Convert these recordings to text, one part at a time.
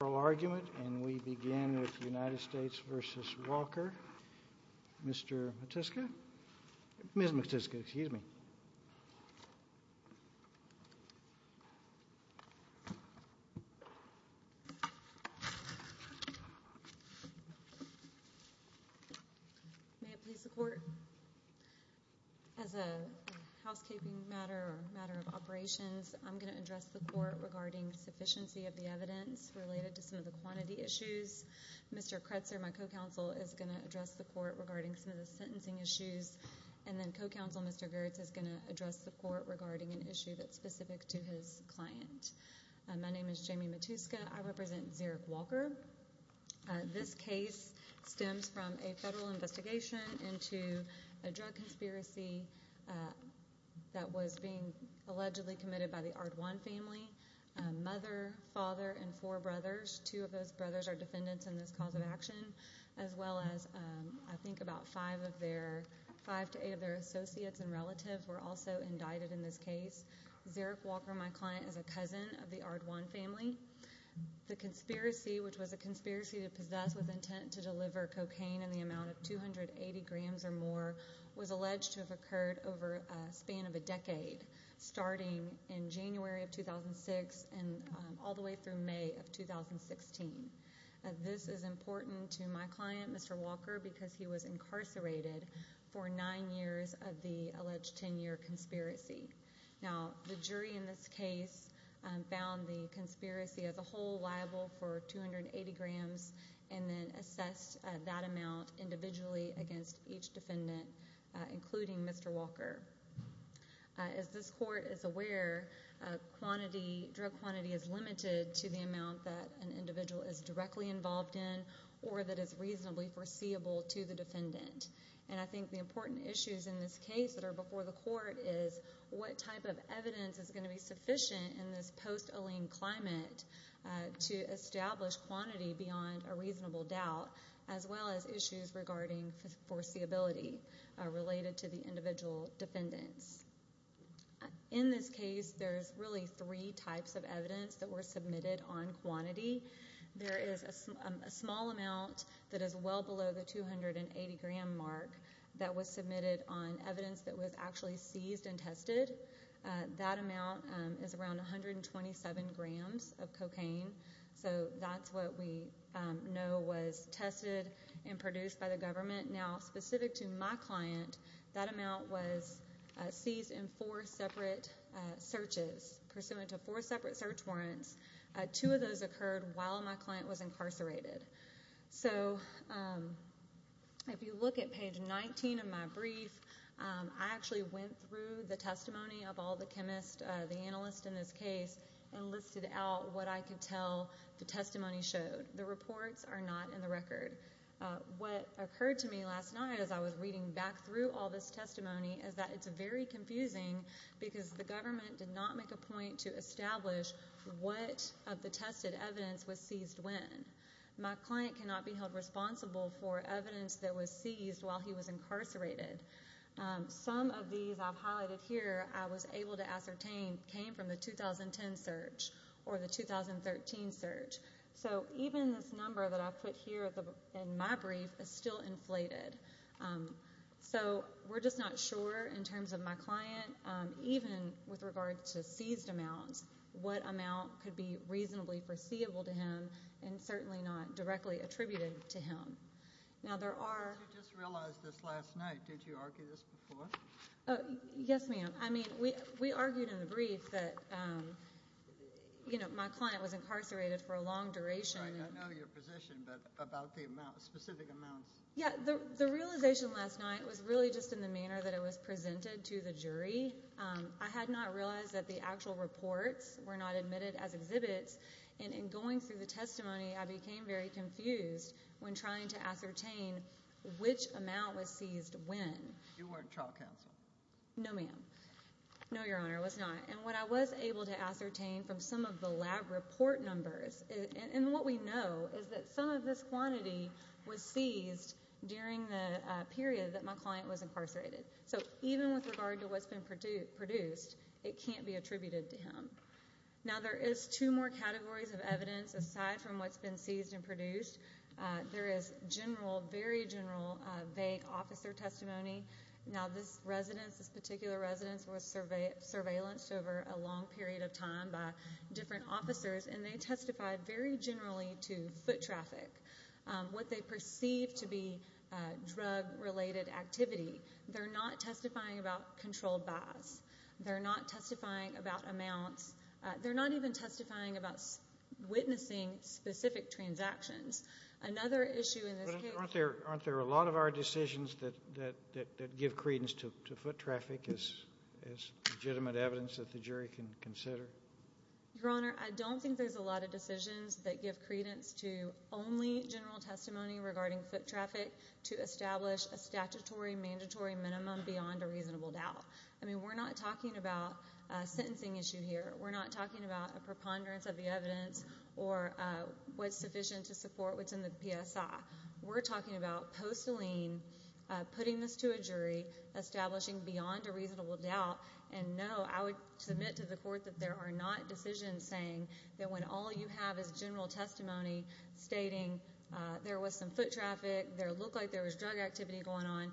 oral argument, and we begin with United States v. Walker, Ms. Matyska. May it please the Court, as a housekeeping matter, a matter of operations, I'm going to address the Court regarding sufficiency of the evidence related to some of the quantity issues. Mr. Kretzer, my co-counsel, is going to address the Court regarding some of the sentencing issues, and then co-counsel Mr. Girtz is going to address the Court regarding an issue that's specific to his client. My name is Jamie Matyska. I represent Zerrick Walker. This case stems from a federal investigation into a drug conspiracy that was being allegedly committed by the Ardwan family. A mother, father, and four brothers, two of those brothers are defendants in this cause of action, as well as I think about five to eight of their associates and relatives were also indicted in this case. Zerrick Walker, my client, is a cousin of the Ardwan family. The conspiracy, which was a conspiracy to possess with intent to deliver cocaine in the amount of 280 grams or more, was alleged to have occurred over a span of a decade, starting in January of 2006 and all the way through May of 2016. This is important to my client, Mr. Walker, because he was incarcerated for nine years of the alleged 10-year conspiracy. Now, the jury in this case found the conspiracy as a whole liable for 280 grams and then assessed that amount individually against each defendant, including Mr. Walker. As this court is aware, drug quantity is limited to the amount that an individual is directly involved in or that is reasonably foreseeable to the defendant. I think the important issues in this case that are before the court is what type of evidence is going to be sufficient in this post-Allene climate to establish quantity beyond a reasonable doubt, as well as issues regarding foreseeability related to the individual defendants. In this case, there's really three types of evidence that were submitted on quantity. There is a small amount that is well below the 280-gram mark that was submitted on evidence that was actually seized and tested. That amount is around 127 grams of cocaine, so that's what we know was tested and produced by the government. Now, specific to my client, that amount was seized in four separate searches. Pursuant to four separate search warrants, two of those occurred while my client was incarcerated. So if you look at page 19 of my brief, I actually went through the testimony of all the chemists, the analysts in this case, and listed out what I could tell the testimony showed. The reports are not in the record. What occurred to me last night as I was reading back through all this testimony is that it's very confusing because the government did not make a point to establish what of the tested evidence was seized when. My client cannot be held responsible for evidence that was seized while he was incarcerated. Some of these I've highlighted here I was able to ascertain came from the 2010 search or the 2013 search. So even this number that I've put here in my brief is still inflated. So we're just not sure in terms of my client, even with regard to seized amounts, what amount could be reasonably foreseeable to him and certainly not directly attributed to him. Now, there are. You just realized this last night. Did you argue this before? Yes, ma'am. I mean, we argued in the brief that, you know, my client was incarcerated for a long duration. I know your position, but about the specific amounts. Yeah, the realization last night was really just in the manner that it was presented to the jury. I had not realized that the actual reports were not admitted as exhibits, and in going through the testimony I became very confused when trying to ascertain which amount was seized when. You weren't trial counsel. No, ma'am. No, Your Honor, I was not. And what I was able to ascertain from some of the lab report numbers, and what we know is that some of this quantity was seized during the period that my client was incarcerated. So even with regard to what's been produced, it can't be attributed to him. Now, there is two more categories of evidence aside from what's been seized and produced. There is general, very general, vague officer testimony. Now, this residence, this particular residence, was surveillanced over a long period of time by different officers, and they testified very generally to foot traffic, what they perceived to be drug-related activity. They're not testifying about controlled buys. They're not testifying about amounts. They're not even testifying about witnessing specific transactions. Another issue in this case— But aren't there a lot of our decisions that give credence to foot traffic as legitimate evidence that the jury can consider? Your Honor, I don't think there's a lot of decisions that give credence to only general testimony regarding foot traffic to establish a statutory, mandatory minimum beyond a reasonable doubt. I mean, we're not talking about a sentencing issue here. We're not talking about a preponderance of the evidence or what's sufficient to support what's in the PSI. We're talking about postaline, putting this to a jury, establishing beyond a reasonable doubt, and no, I would submit to the court that there are not decisions saying that when all you have is general testimony stating there was some foot traffic, there looked like there was drug activity going on.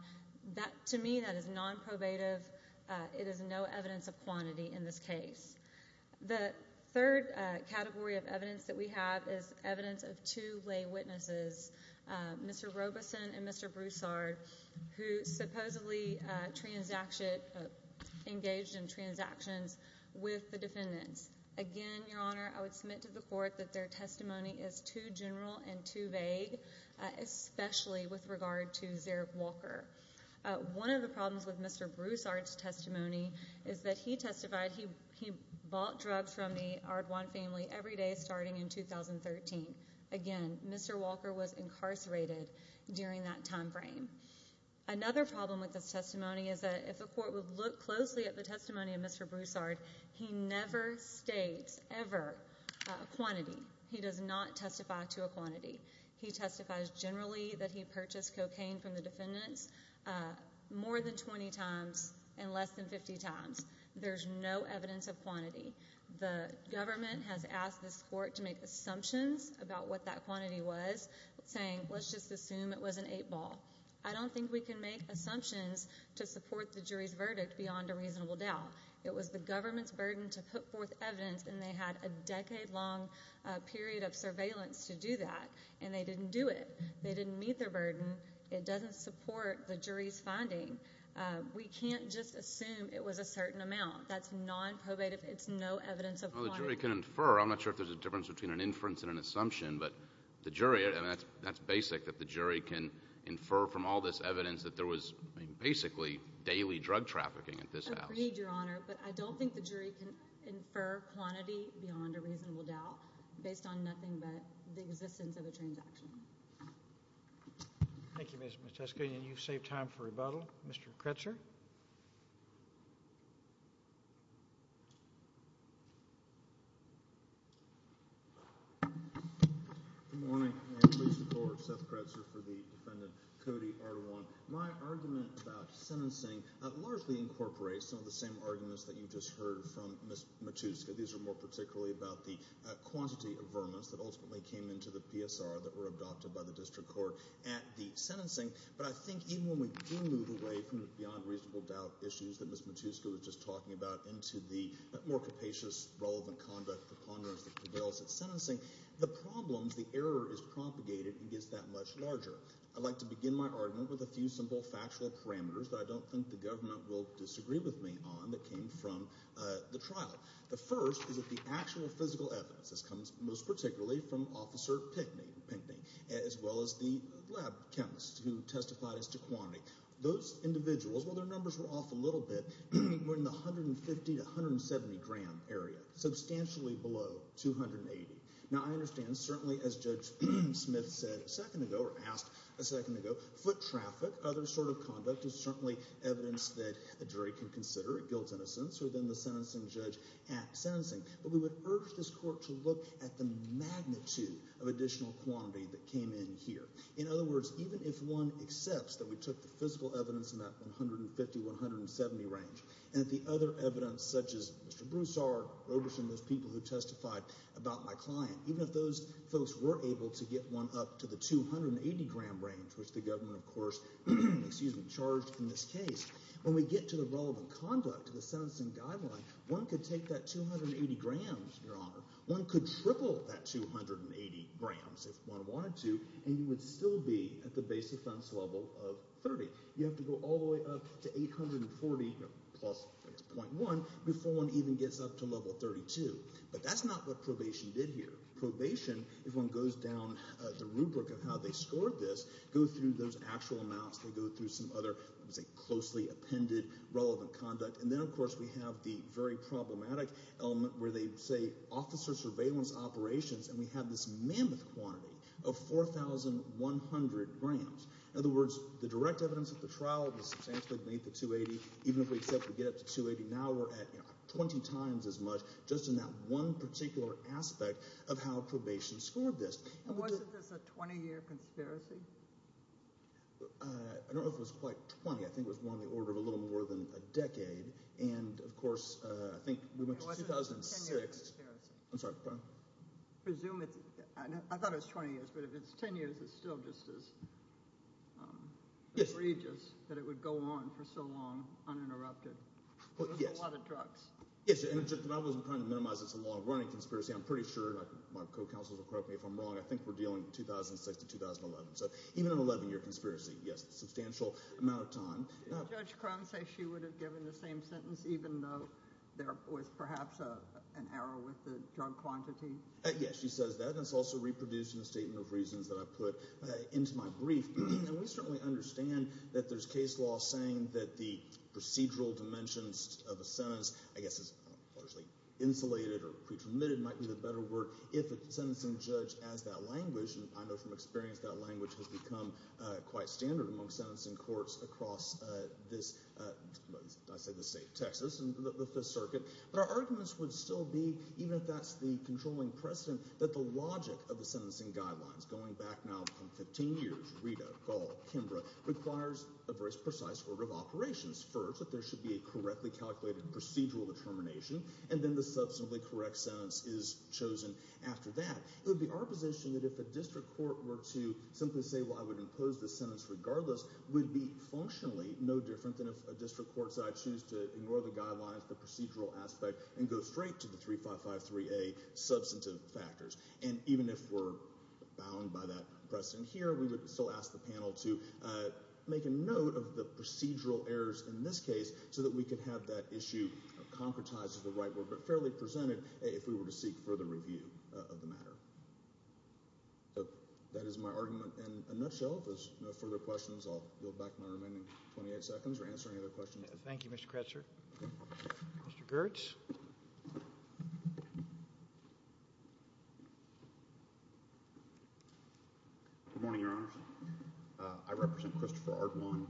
To me, that is nonprobative. It is no evidence of quantity in this case. The third category of evidence that we have is evidence of two lay witnesses, Mr. Robeson and Mr. Broussard, who supposedly engaged in transactions with the defendants. Again, Your Honor, I would submit to the court that their testimony is too general and too vague, especially with regard to Zarek Walker. One of the problems with Mr. Broussard's testimony is that he testified he bought drugs from the Ardwan family every day starting in 2013. Again, Mr. Walker was incarcerated during that time frame. Another problem with this testimony is that if the court would look closely at the testimony of Mr. Broussard, he never states ever quantity. He does not testify to a quantity. He testifies generally that he purchased cocaine from the defendants more than 20 times and less than 50 times. There is no evidence of quantity. The government has asked this court to make assumptions about what that quantity was, saying, let's just assume it was an eight ball. I don't think we can make assumptions to support the jury's verdict beyond a reasonable doubt. It was the government's burden to put forth evidence, and they had a decade-long period of surveillance to do that, and they didn't do it. They didn't meet their burden. It doesn't support the jury's finding. We can't just assume it was a certain amount. That's nonprobative. It's no evidence of quantity. Well, the jury can infer. I'm not sure if there's a difference between an inference and an assumption, but the jury, I mean, that's basic that the jury can infer from all this evidence that there was basically daily drug trafficking at this house. I agree, Your Honor, but I don't think the jury can infer quantity beyond a reasonable doubt based on nothing but the existence of a transaction. Thank you, Ms. Metesky, and you've saved time for rebuttal. Mr. Kretzer? Good morning, and I'm pleased to report Seth Kretzer for the defendant, Cody R1. My argument about sentencing largely incorporates some of the same arguments that you just heard from Ms. Matuska. These are more particularly about the quantity of vermin that ultimately came into the PSR that were adopted by the district court at the sentencing. But I think even when we do move away from beyond reasonable doubt issues that Ms. Matuska was just talking about into the more capacious, relevant conduct, the ponderance that prevails at sentencing, the problems, the error is propagated and gets that much larger. I'd like to begin my argument with a few simple factual parameters that I don't think the government will disagree with me on that came from the trial. The first is that the actual physical evidence, this comes most particularly from Officer Pinckney, as well as the lab chemists who testified as to quantity. Those individuals, while their numbers were off a little bit, were in the 150-170 gram area, substantially below 280. Now I understand, certainly as Judge Smith said a second ago, or asked a second ago, foot traffic, other sort of conduct is certainly evidence that a jury can consider. It builds innocence within the sentencing judge at sentencing. But we would urge this court to look at the magnitude of additional quantity that came in here. In other words, even if one accepts that we took the physical evidence in that 150-170 range and the other evidence such as Mr. Broussard, Roberson, those people who testified about my client, even if those folks were able to get one up to the 280-gram range, which the government, of course, charged in this case, when we get to the relevant conduct, to the sentencing guideline, one could take that 280 grams, Your Honor, one could triple that 280 grams if one wanted to, and you would still be at the base offense level of 30. You have to go all the way up to 840 plus .1 before one even gets up to level 32. But that's not what probation did here. Probation, if one goes down the rubric of how they scored this, goes through those actual amounts. They go through some other, let's say, closely appended relevant conduct. And then, of course, we have the very problematic element where they say officer surveillance operations, and we have this mammoth quantity of 4,100 grams. In other words, the direct evidence at the trial was substantially beneath the 280. Even if we said we'd get up to 280, now we're at 20 times as much just in that one particular aspect of how probation scored this. And wasn't this a 20-year conspiracy? I don't know if it was quite 20. I think it was more on the order of a little more than a decade. And, of course, I think we went to 2006. It wasn't a 10-year conspiracy. I'm sorry, pardon? I thought it was 20 years, but if it's 10 years, it's still just as egregious that it would go on for so long uninterrupted. It was a lot of drugs. Yes, and I wasn't trying to minimize it as a long-running conspiracy. I'm pretty sure my co-counsels will correct me if I'm wrong. I think we're dealing 2006 to 2011. So even an 11-year conspiracy, yes, a substantial amount of time. Did Judge Crone say she would have given the same sentence even though there was perhaps an error with the drug quantity? Yes, she says that, and it's also reproduced in the statement of reasons that I put into my brief. And we certainly understand that there's case law saying that the procedural dimensions of a sentence, I guess it's largely insulated or pre-permitted might be the better word, if a sentencing judge has that language. And I know from experience that language has become quite standard among sentencing courts across this – I say the state of Texas, the Fifth Circuit. But our arguments would still be, even if that's the controlling precedent, that the logic of the sentencing guidelines going back now from 15 years, Rita, Gall, Kimbrough, requires a very precise order of operations. First, that there should be a correctly calculated procedural determination, and then the substantively correct sentence is chosen after that. It would be our position that if a district court were to simply say, well, I would impose this sentence regardless, would be functionally no different than if a district court said I choose to ignore the guidelines, the procedural aspect, and go straight to the 3553A substantive factors. And even if we're bound by that precedent here, we would still ask the panel to make a note of the procedural errors in this case so that we could have that issue concretized as the right word but fairly presented if we were to seek further review of the matter. So that is my argument in a nutshell. If there's no further questions, I'll yield back my remaining 28 seconds or answer any other questions. Thank you, Mr. Kretzer. Mr. Gertz. Good morning, Your Honor. I represent Christopher Ardwan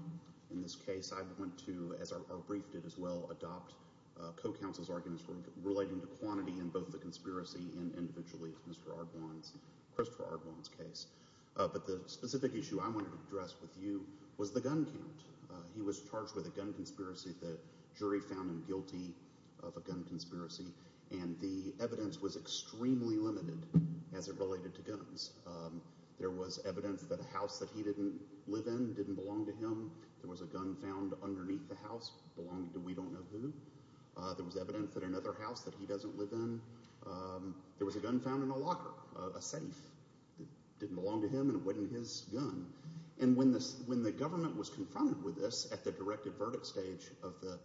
in this case. I want to, as our brief did as well, adopt co-counsel's arguments relating to quantity in both the conspiracy and individually Mr. Ardwan's, Christopher Ardwan's case. But the specific issue I wanted to address with you was the gun count. He was charged with a gun conspiracy. The jury found him guilty of a gun conspiracy, and the evidence was extremely limited as it related to guns. There was evidence that a house that he didn't live in didn't belong to him. There was a gun found underneath the house belonging to we don't know who. There was evidence that another house that he doesn't live in, there was a gun found in a locker, a safe that didn't belong to him, and it went in his gun. And when the government was confronted with this at the directive verdict stage of the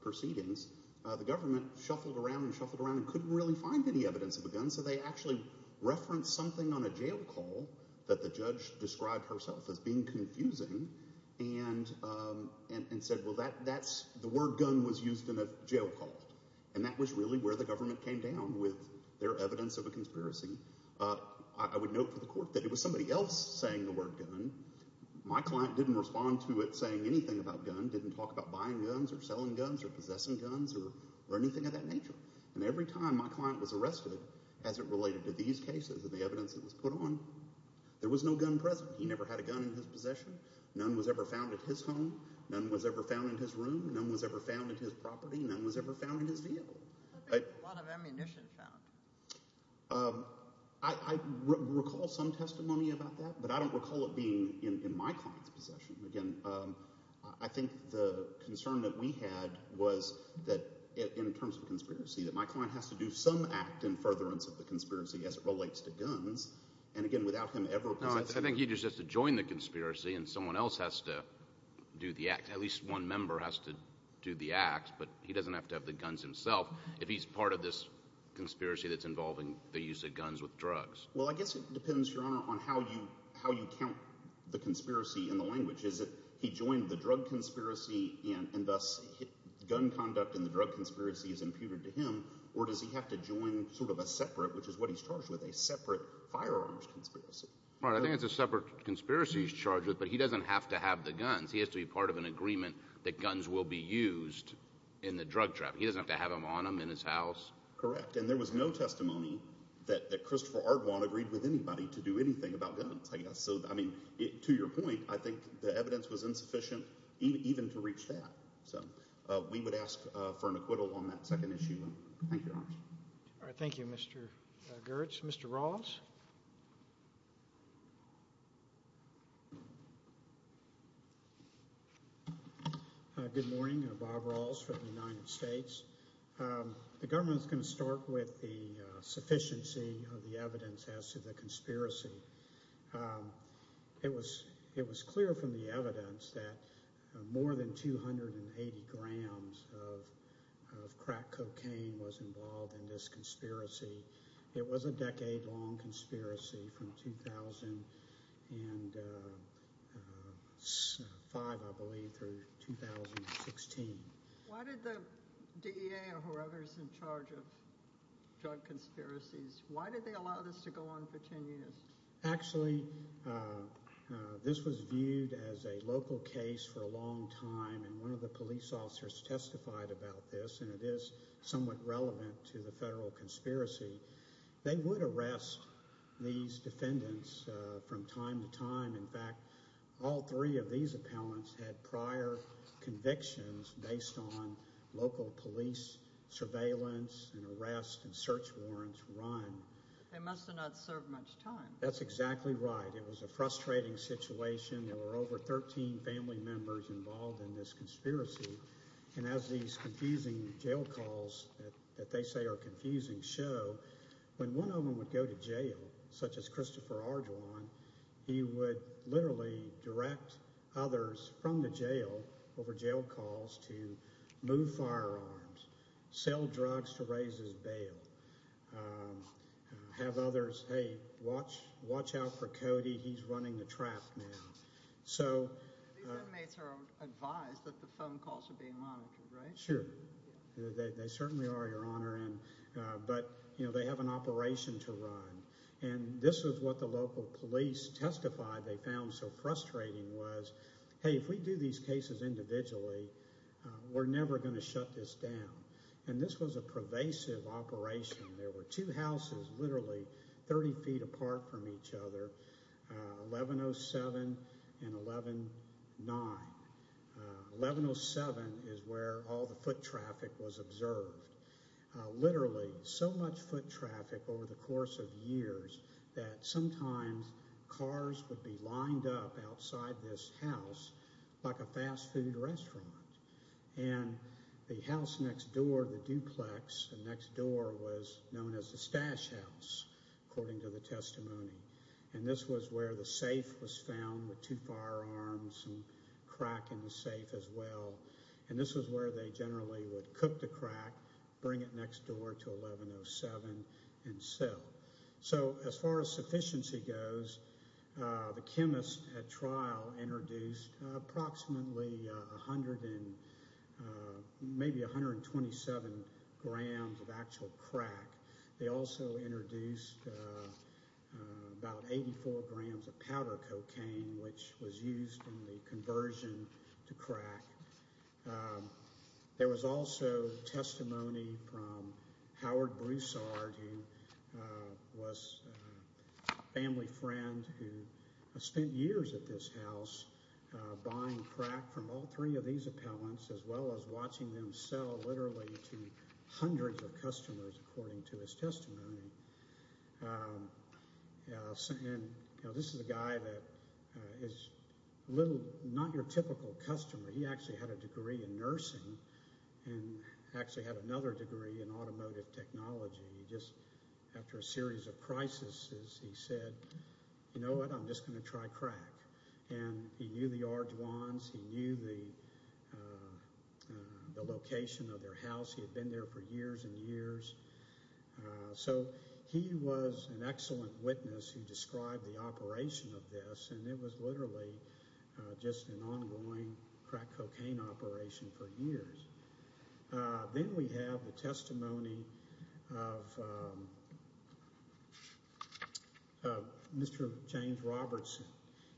proceedings, the government shuffled around and shuffled around and couldn't really find any evidence of a gun. So they actually referenced something on a jail call that the judge described herself as being confusing and said, well, that's – the word gun was used in a jail call. And that was really where the government came down with their evidence of a conspiracy. I would note for the court that it was somebody else saying the word gun. My client didn't respond to it saying anything about gun, didn't talk about buying guns or selling guns or possessing guns or anything of that nature. And every time my client was arrested as it related to these cases and the evidence that was put on, there was no gun present. He never had a gun in his possession. None was ever found at his home. None was ever found in his room. None was ever found at his property. None was ever found in his vehicle. A lot of ammunition found. I recall some testimony about that, but I don't recall it being in my client's possession. Again, I think the concern that we had was that in terms of conspiracy, that my client has to do some act in furtherance of the conspiracy as it relates to guns. And again, without him ever possessing – I think he just has to join the conspiracy and someone else has to do the act. At least one member has to do the act, but he doesn't have to have the guns himself if he's part of this conspiracy that's involving the use of guns with drugs. Well, I guess it depends, Your Honor, on how you count the conspiracy in the language. Is it he joined the drug conspiracy and thus gun conduct in the drug conspiracy is imputed to him, or does he have to join sort of a separate, which is what he's charged with, a separate firearms conspiracy? Right, I think it's a separate conspiracy he's charged with, but he doesn't have to have the guns. He has to be part of an agreement that guns will be used in the drug trafficking. He doesn't have to have them on him in his house. Correct, and there was no testimony that Christopher Ardwan agreed with anybody to do anything about guns, I guess. So, I mean, to your point, I think the evidence was insufficient even to reach that. So we would ask for an acquittal on that second issue. Thank you, Your Honor. All right, thank you, Mr. Gertz. Mr. Rawls? Good morning. Bob Rawls from the United States. The government is going to start with the sufficiency of the evidence as to the conspiracy. It was clear from the evidence that more than 280 grams of crack cocaine was involved in this conspiracy. It was a decade-long conspiracy from 2005, I believe, through 2016. Why did the DEA or whoever is in charge of drug conspiracies, why did they allow this to go on for 10 years? Actually, this was viewed as a local case for a long time, and one of the police officers testified about this, and it is somewhat relevant to the federal conspiracy. They would arrest these defendants from time to time. In fact, all three of these appellants had prior convictions based on local police surveillance and arrest and search warrants run. They must have not served much time. That's exactly right. It was a frustrating situation. There were over 13 family members involved in this conspiracy. And as these confusing jail calls that they say are confusing show, when one of them would go to jail, such as Christopher Arjuan, he would literally direct others from the jail over jail calls to move firearms, sell drugs to raise his bail, have others, hey, watch out for Cody, he's running the trap now. These inmates are advised that the phone calls are being monitored, right? Sure. They certainly are, Your Honor. But they have an operation to run, and this is what the local police testified they found so frustrating was, hey, if we do these cases individually, we're never going to shut this down. And this was a pervasive operation. There were two houses literally 30 feet apart from each other, 1107 and 1109. 1107 is where all the foot traffic was observed. Literally so much foot traffic over the course of years that sometimes cars would be lined up outside this house like a fast food restaurant. And the house next door, the duplex next door was known as the stash house, according to the testimony. And this was where the safe was found with two firearms and a crack in the safe as well. And this was where they generally would cook the crack, bring it next door to 1107, and sell. So as far as sufficiency goes, the chemists at trial introduced approximately 100 and maybe 127 grams of actual crack. They also introduced about 84 grams of powder cocaine, which was used in the conversion to crack. There was also testimony from Howard Broussard, who was a family friend who spent years at this house buying crack from all three of these appellants, as well as watching them sell literally to hundreds of customers, according to his testimony. This is a guy that is not your typical customer. He actually had a degree in nursing and actually had another degree in automotive technology. Just after a series of crises, he said, you know what? I'm just going to try crack. And he knew the Arduans. He knew the location of their house. He had been there for years and years. So he was an excellent witness who described the operation of this, and it was literally just an ongoing crack cocaine operation for years. Then we have the testimony of Mr. James Robertson.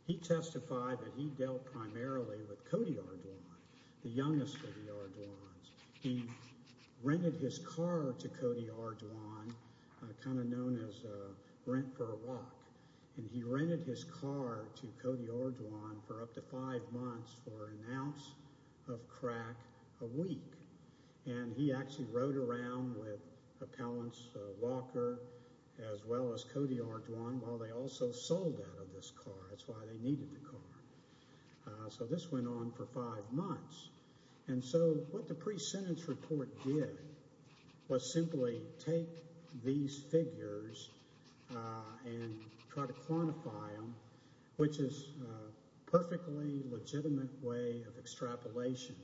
He testified that he dealt primarily with Cody Arduans, the youngest of the Arduans. He rented his car to Cody Arduan, kind of known as Rent for a Walk. And he rented his car to Cody Arduan for up to five months for an ounce of crack a week. And he actually rode around with Appellants Walker as well as Cody Arduan while they also sold out of this car. That's why they needed the car. So this went on for five months. And so what the pre-sentence report did was simply take these figures and try to quantify them, which is a perfectly legitimate way of extrapolation.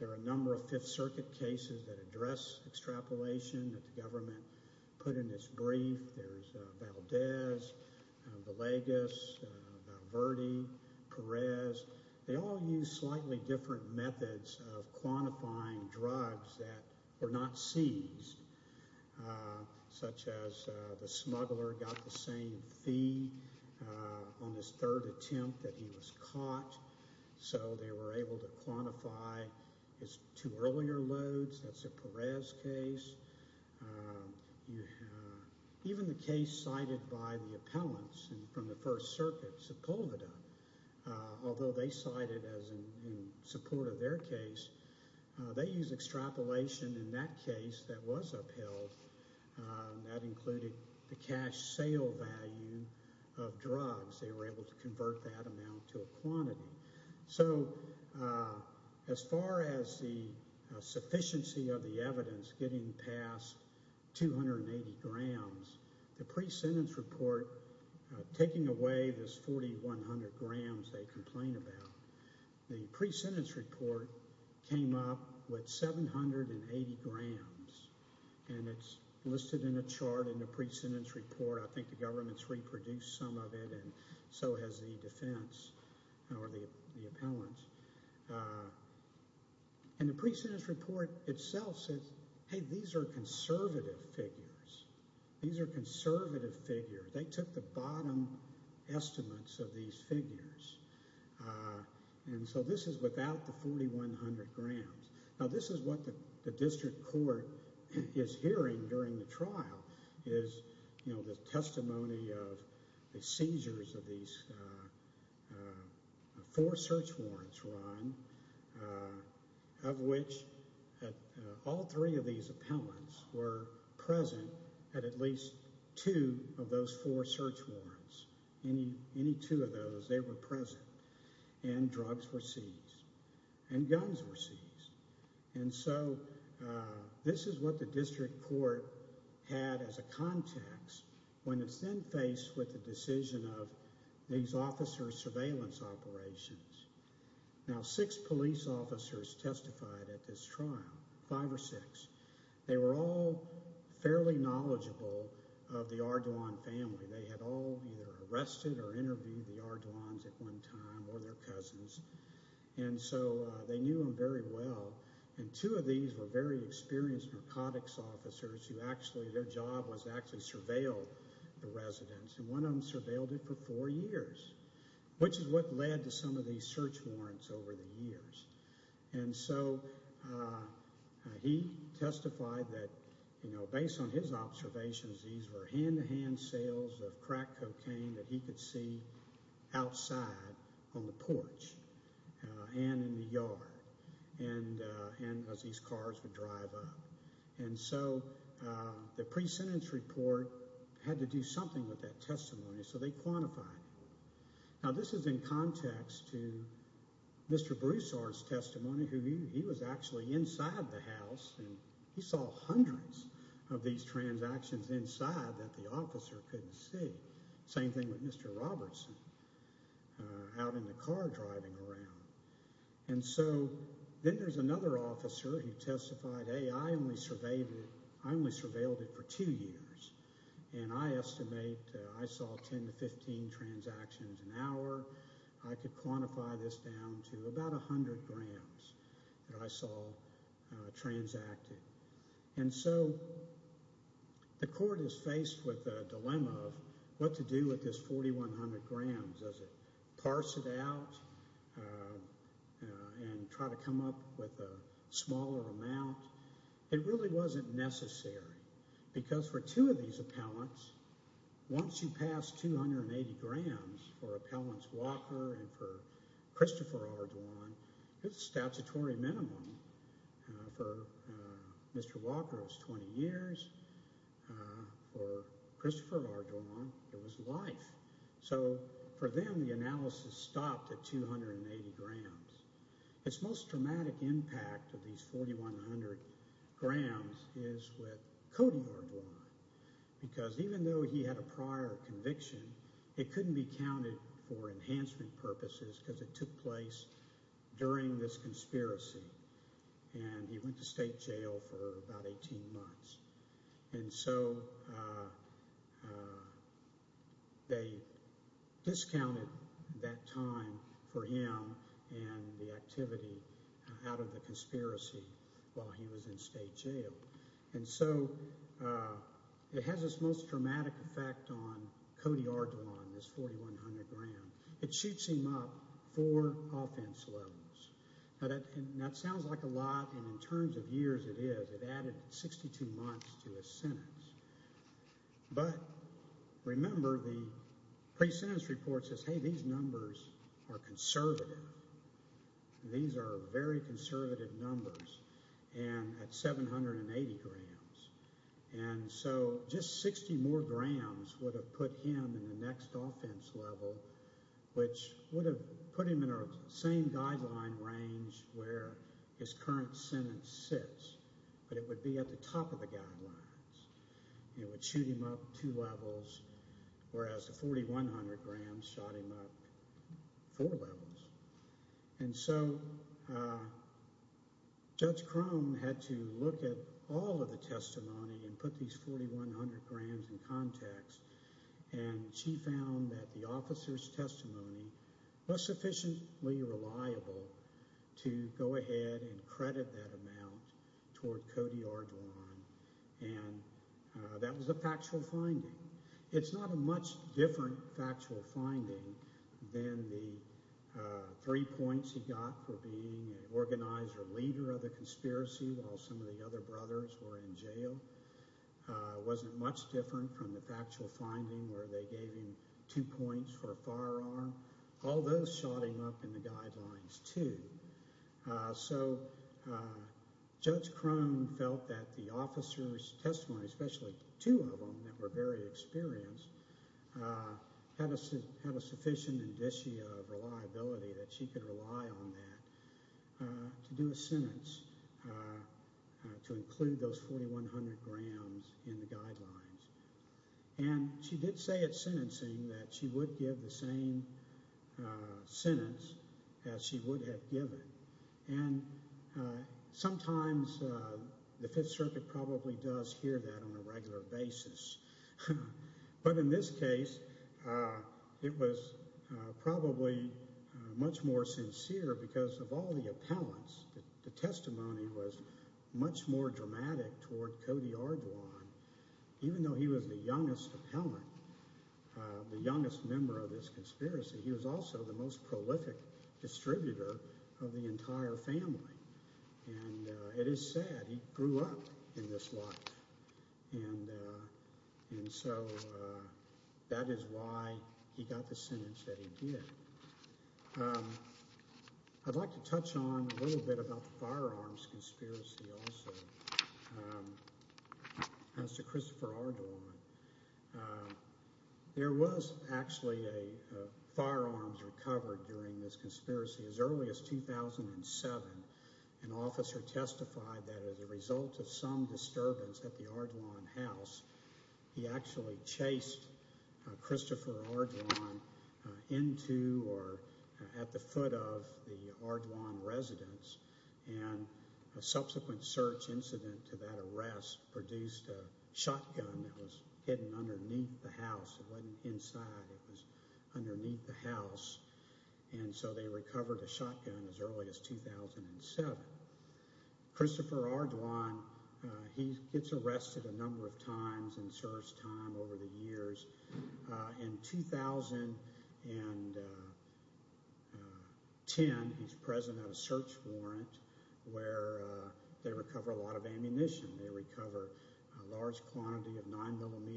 There are a number of Fifth Circuit cases that address extrapolation that the government put in its brief. There's Valdez, Villegas, Valverde, Perez. They all use slightly different methods of quantifying drugs that were not seized, such as the smuggler got the same fee on his third attempt that he was caught. So they were able to quantify his two earlier loads. That's a Perez case. Even the case cited by the appellants from the First Circuit, Sepulveda, although they cite it as in support of their case, they use extrapolation in that case that was upheld. That included the cash sale value of drugs. They were able to convert that amount to a quantity. So as far as the sufficiency of the evidence getting past 280 grams, the pre-sentence report, taking away this 4,100 grams they complain about, the pre-sentence report came up with 780 grams. And it's listed in a chart in the pre-sentence report. I think the government's reproduced some of it and so has the defense or the appellants. And the pre-sentence report itself says, hey, these are conservative figures. These are conservative figures. They took the bottom estimates of these figures. And so this is without the 4,100 grams. Now, this is what the district court is hearing during the trial is the testimony of the seizures of these four search warrants, Ron, of which all three of these appellants were present at at least two of those four search warrants. Any two of those, they were present. And drugs were seized. And guns were seized. And so this is what the district court had as a context when it's then faced with the decision of these officers' surveillance operations. Now, six police officers testified at this trial, five or six. They were all fairly knowledgeable of the Ardoin family. They had all either arrested or interviewed the Ardoins at one time or their cousins. And so they knew them very well. And two of these were very experienced narcotics officers who actually their job was to actually surveil the residents. And one of them surveilled it for four years, which is what led to some of these search warrants over the years. And so he testified that, you know, based on his observations, these were hand-to-hand sales of crack cocaine that he could see outside on the porch and in the yard and as these cars would drive up. And so the pre-sentence report had to do something with that testimony, so they quantified it. Now, this is in context to Mr. Broussard's testimony. He was actually inside the house, and he saw hundreds of these transactions inside that the officer couldn't see. Same thing with Mr. Robertson out in the car driving around. And so then there's another officer who testified, hey, I only surveilled it for two years. And I estimate I saw 10 to 15 transactions an hour. I could quantify this down to about 100 grams that I saw transacted. And so the court is faced with a dilemma of what to do with this 4,100 grams. Does it parse it out and try to come up with a smaller amount? It really wasn't necessary, because for two of these appellants, once you pass 280 grams for Appellants Walker and for Christopher Ardoin, it's a statutory minimum. For Mr. Walker, it was 20 years. For Christopher Ardoin, it was life. So for them, the analysis stopped at 280 grams. Its most dramatic impact of these 4,100 grams is with Cody Ardoin, because even though he had a prior conviction, it couldn't be counted for enhancement purposes because it took place during this conspiracy. And he went to state jail for about 18 months. And so they discounted that time for him and the activity out of the conspiracy while he was in state jail. And so it has its most dramatic effect on Cody Ardoin, this 4,100 grams. It shoots him up four offense levels. Now, that sounds like a lot, and in terms of years, it is. It added 62 months to his sentence. But remember, the pre-sentence report says, hey, these numbers are conservative. These are very conservative numbers, and at 780 grams. And so just 60 more grams would have put him in the next offense level, which would have put him in our same guideline range where his current sentence sits. But it would be at the top of the guidelines. It would shoot him up two levels, whereas the 4,100 grams shot him up four levels. And so Judge Crone had to look at all of the testimony and put these 4,100 grams in context. And she found that the officer's testimony was sufficiently reliable to go ahead and credit that amount toward Cody Ardoin. And that was a factual finding. It's not a much different factual finding than the three points he got for being an organizer leader of the conspiracy while some of the other brothers were in jail. It wasn't much different from the factual finding where they gave him two points for a firearm. All those shot him up in the guidelines too. So Judge Crone felt that the officer's testimony, especially two of them that were very experienced, had a sufficient indicia of reliability that she could rely on that to do a sentence to include those 4,100 grams in the guidelines. And she did say at sentencing that she would give the same sentence as she would have given. And sometimes the Fifth Circuit probably does hear that on a regular basis. But in this case, it was probably much more sincere because of all the appellants. The testimony was much more dramatic toward Cody Ardoin. Even though he was the youngest appellant, the youngest member of this conspiracy, he was also the most prolific distributor of the entire family. And it is sad. He grew up in this life. And so that is why he got the sentence that he did. I'd like to touch on a little bit about the firearms conspiracy also as to Christopher Ardoin. There was actually a firearms recovered during this conspiracy. As early as 2007, an officer testified that as a result of some disturbance at the Ardoin house, he actually chased Christopher Ardoin into or at the foot of the Ardoin residence. And a subsequent search incident to that arrest produced a shotgun that was hidden underneath the house. It wasn't inside. It was underneath the house. And so they recovered a shotgun as early as 2007. Christopher Ardoin, he gets arrested a number of times in search time over the years. In 2010, he's present at a search warrant where they recover a lot of ammunition. They recover a large quantity of 9mm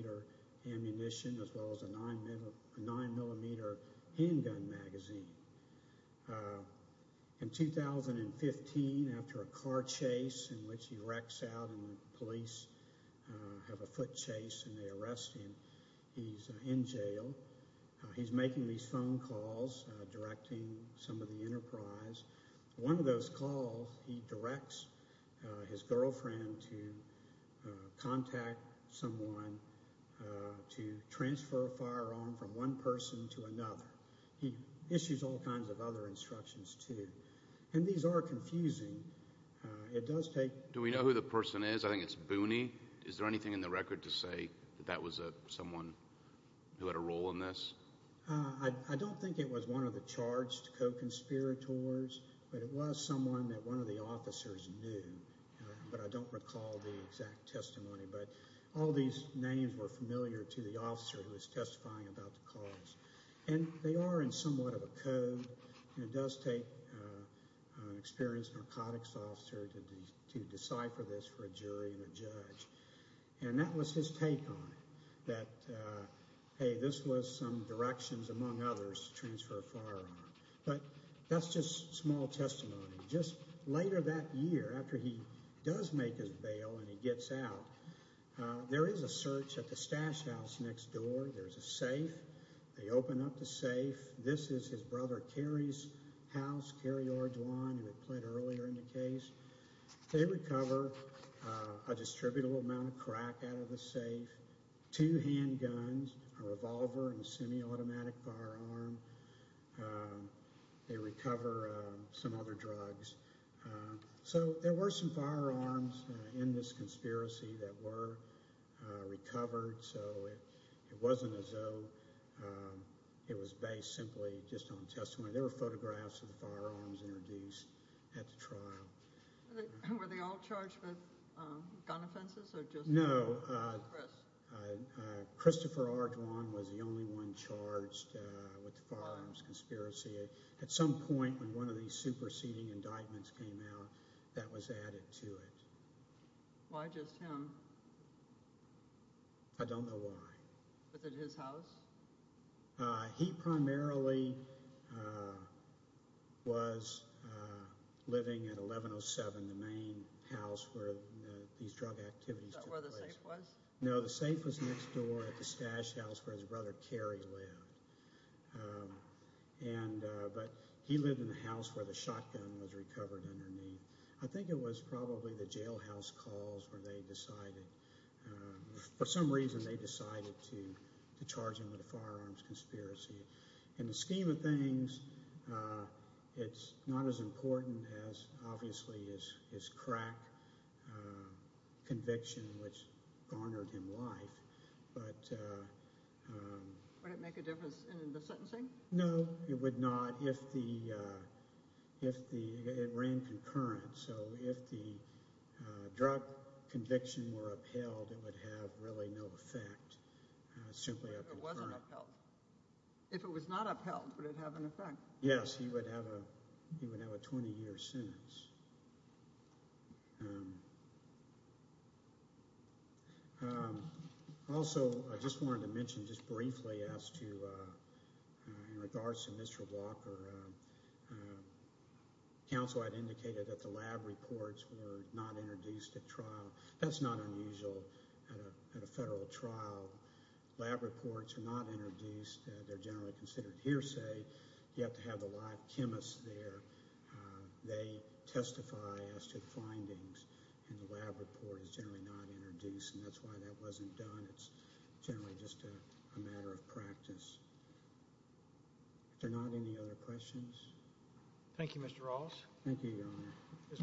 ammunition as well as a 9mm handgun magazine. In 2015, after a car chase in which he wrecks out and the police have a foot chase and they arrest him, he's in jail. He's making these phone calls, directing some of the enterprise. One of those calls, he directs his girlfriend to contact someone to transfer a firearm from one person to another. He issues all kinds of other instructions too. And these are confusing. It does take— Do we know who the person is? I think it's Booney. Is there anything in the record to say that that was someone who had a role in this? I don't think it was one of the charged co-conspirators, but it was someone that one of the officers knew. But I don't recall the exact testimony. But all these names were familiar to the officer who was testifying about the cause. And they are in somewhat of a code. It does take an experienced narcotics officer to decipher this for a jury and a judge. And that was his take on it, that, hey, this was some directions, among others, to transfer a firearm. But that's just small testimony. Just later that year, after he does make his bail and he gets out, there is a search at the stash house next door. There's a safe. They open up the safe. This is his brother Cary's house, Cary Orduan, who had pled earlier in the case. They recover a distributable amount of crack out of the safe, two handguns, a revolver, and a semiautomatic firearm. They recover some other drugs. So there were some firearms in this conspiracy that were recovered. So it wasn't as though it was based simply just on testimony. There were photographs of the firearms introduced at the trial. Were they all charged with gun offenses or just— No. Christopher Orduan was the only one charged with firearms conspiracy. At some point, when one of these superseding indictments came out, that was added to it. Why just him? I don't know why. Was it his house? He primarily was living at 1107, the main house where these drug activities took place. Is that where the safe was? No, the safe was next door at the stash house where his brother Cary lived. But he lived in the house where the shotgun was recovered underneath. I think it was probably the jailhouse calls where they decided—for some reason, they decided to charge him with a firearms conspiracy. In the scheme of things, it's not as important as, obviously, his crack conviction, which garnered him life. But— Would it make a difference in the sentencing? No, it would not. If the—it ran concurrent, so if the drug conviction were upheld, it would have really no effect. It's simply a concurrent. If it wasn't upheld? If it was not upheld, would it have an effect? Yes, he would have a 20-year sentence. Also, I just wanted to mention just briefly as to—in regards to Mr. Walker, counsel had indicated that the lab reports were not introduced at trial. That's not unusual at a federal trial. Lab reports are not introduced. They're generally considered hearsay. You have to have the live chemists there. They testify as to findings, and the lab report is generally not introduced, and that's why that wasn't done. It's generally just a matter of practice. If there are not any other questions? Thank you, Mr. Rawls. Thank you, Your Honor. Ms. Matuska? Your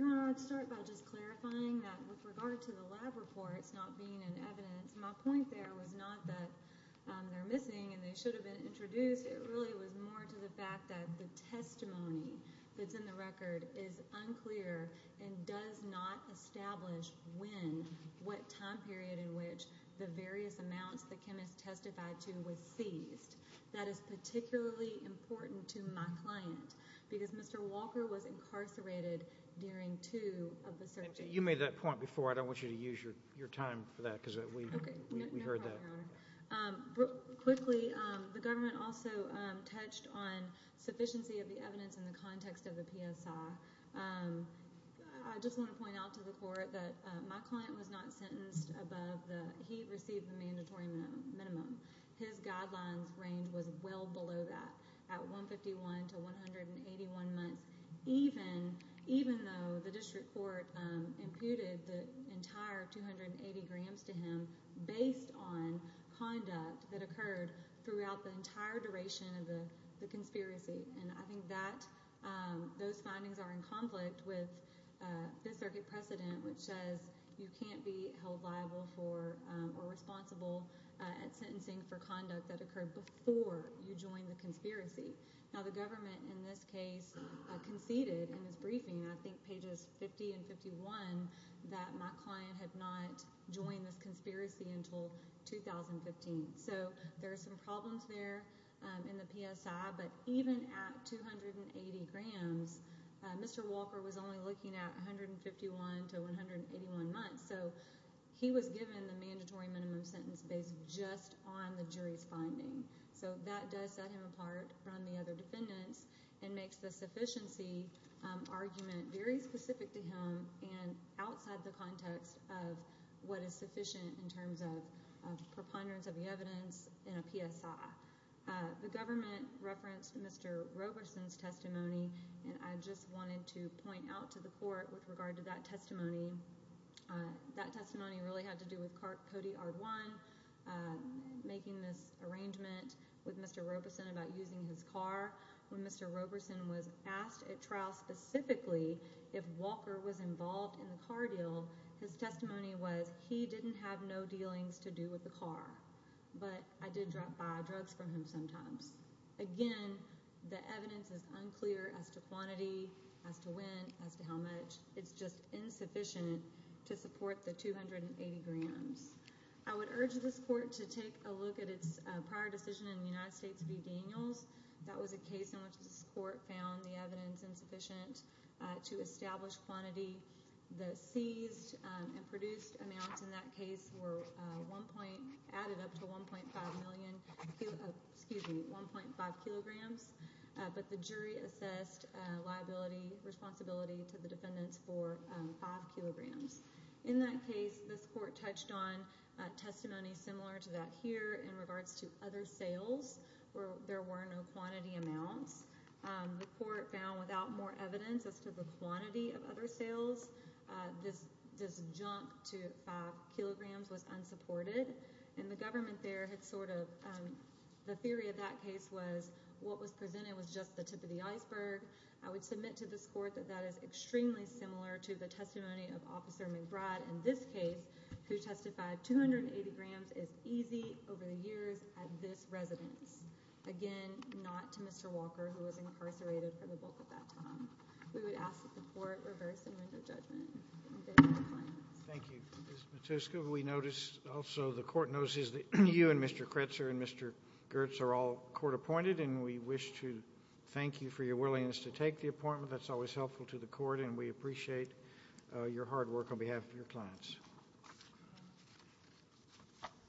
Honor, I'd like to start by just clarifying that with regard to the lab reports not being in evidence, my point there was not that they're missing and they should have been introduced. It really was more to the fact that the testimony that's in the record is unclear and does not establish when, what time period in which, the various amounts the chemist testified to was seized. That is particularly important to my client because Mr. Walker was incarcerated during two of the searches. You made that point before. I don't want you to use your time for that because we heard that. No problem, Your Honor. Quickly, the government also touched on sufficiency of the evidence in the context of the PSI. I just want to point out to the court that my client was not sentenced above the he received the mandatory minimum. His guidelines range was well below that at 151 to 181 months, even though the district court imputed the entire 280 grams to him based on conduct that occurred throughout the entire duration of the conspiracy. I think those findings are in conflict with the circuit precedent, which says you can't be held liable for or responsible at sentencing for conduct that occurred before you joined the conspiracy. Now, the government in this case conceded in its briefing, I think pages 50 and 51, that my client had not joined this conspiracy until 2015. So there are some problems there in the PSI, but even at 280 grams, Mr. Walker was only looking at 151 to 181 months, so he was given the mandatory minimum sentence based just on the jury's finding. So that does set him apart from the other defendants and makes the sufficiency argument very specific to him and outside the context of what is sufficient in terms of preponderance of the evidence in a PSI. The government referenced Mr. Roberson's testimony, and I just wanted to point out to the court with regard to that testimony. That testimony really had to do with Cody Ardwine making this arrangement with Mr. Roberson about using his car. When Mr. Roberson was asked at trial specifically if Walker was involved in the car deal, his testimony was he didn't have no dealings to do with the car, but I did buy drugs from him sometimes. Again, the evidence is unclear as to quantity, as to when, as to how much. It's just insufficient to support the 280 grams. I would urge this court to take a look at its prior decision in the United States v. Daniels. That was a case in which this court found the evidence insufficient to establish quantity. The seized and produced amounts in that case were added up to 1.5 kilograms, but the jury assessed liability, responsibility to the defendants for 5 kilograms. In that case, this court touched on testimony similar to that here in regards to other sales, where there were no quantity amounts. The court found without more evidence as to the quantity of other sales, this jump to 5 kilograms was unsupported. The government there had sort of, the theory of that case was what was presented was just the tip of the iceberg. I would submit to this court that that is extremely similar to the testimony of Officer McBride in this case, who testified 280 grams is easy over the years at this residence. Again, not to Mr. Walker, who was incarcerated for the bulk of that time. We would ask that the court reverse the window of judgment. Thank you. Ms. Matuska, we noticed also the court notices that you and Mr. Kretzer and Mr. Gertz are all court appointed, and we wish to thank you for your willingness to take the appointment. That's always helpful to the court, and we appreciate your hard work on behalf of your clients.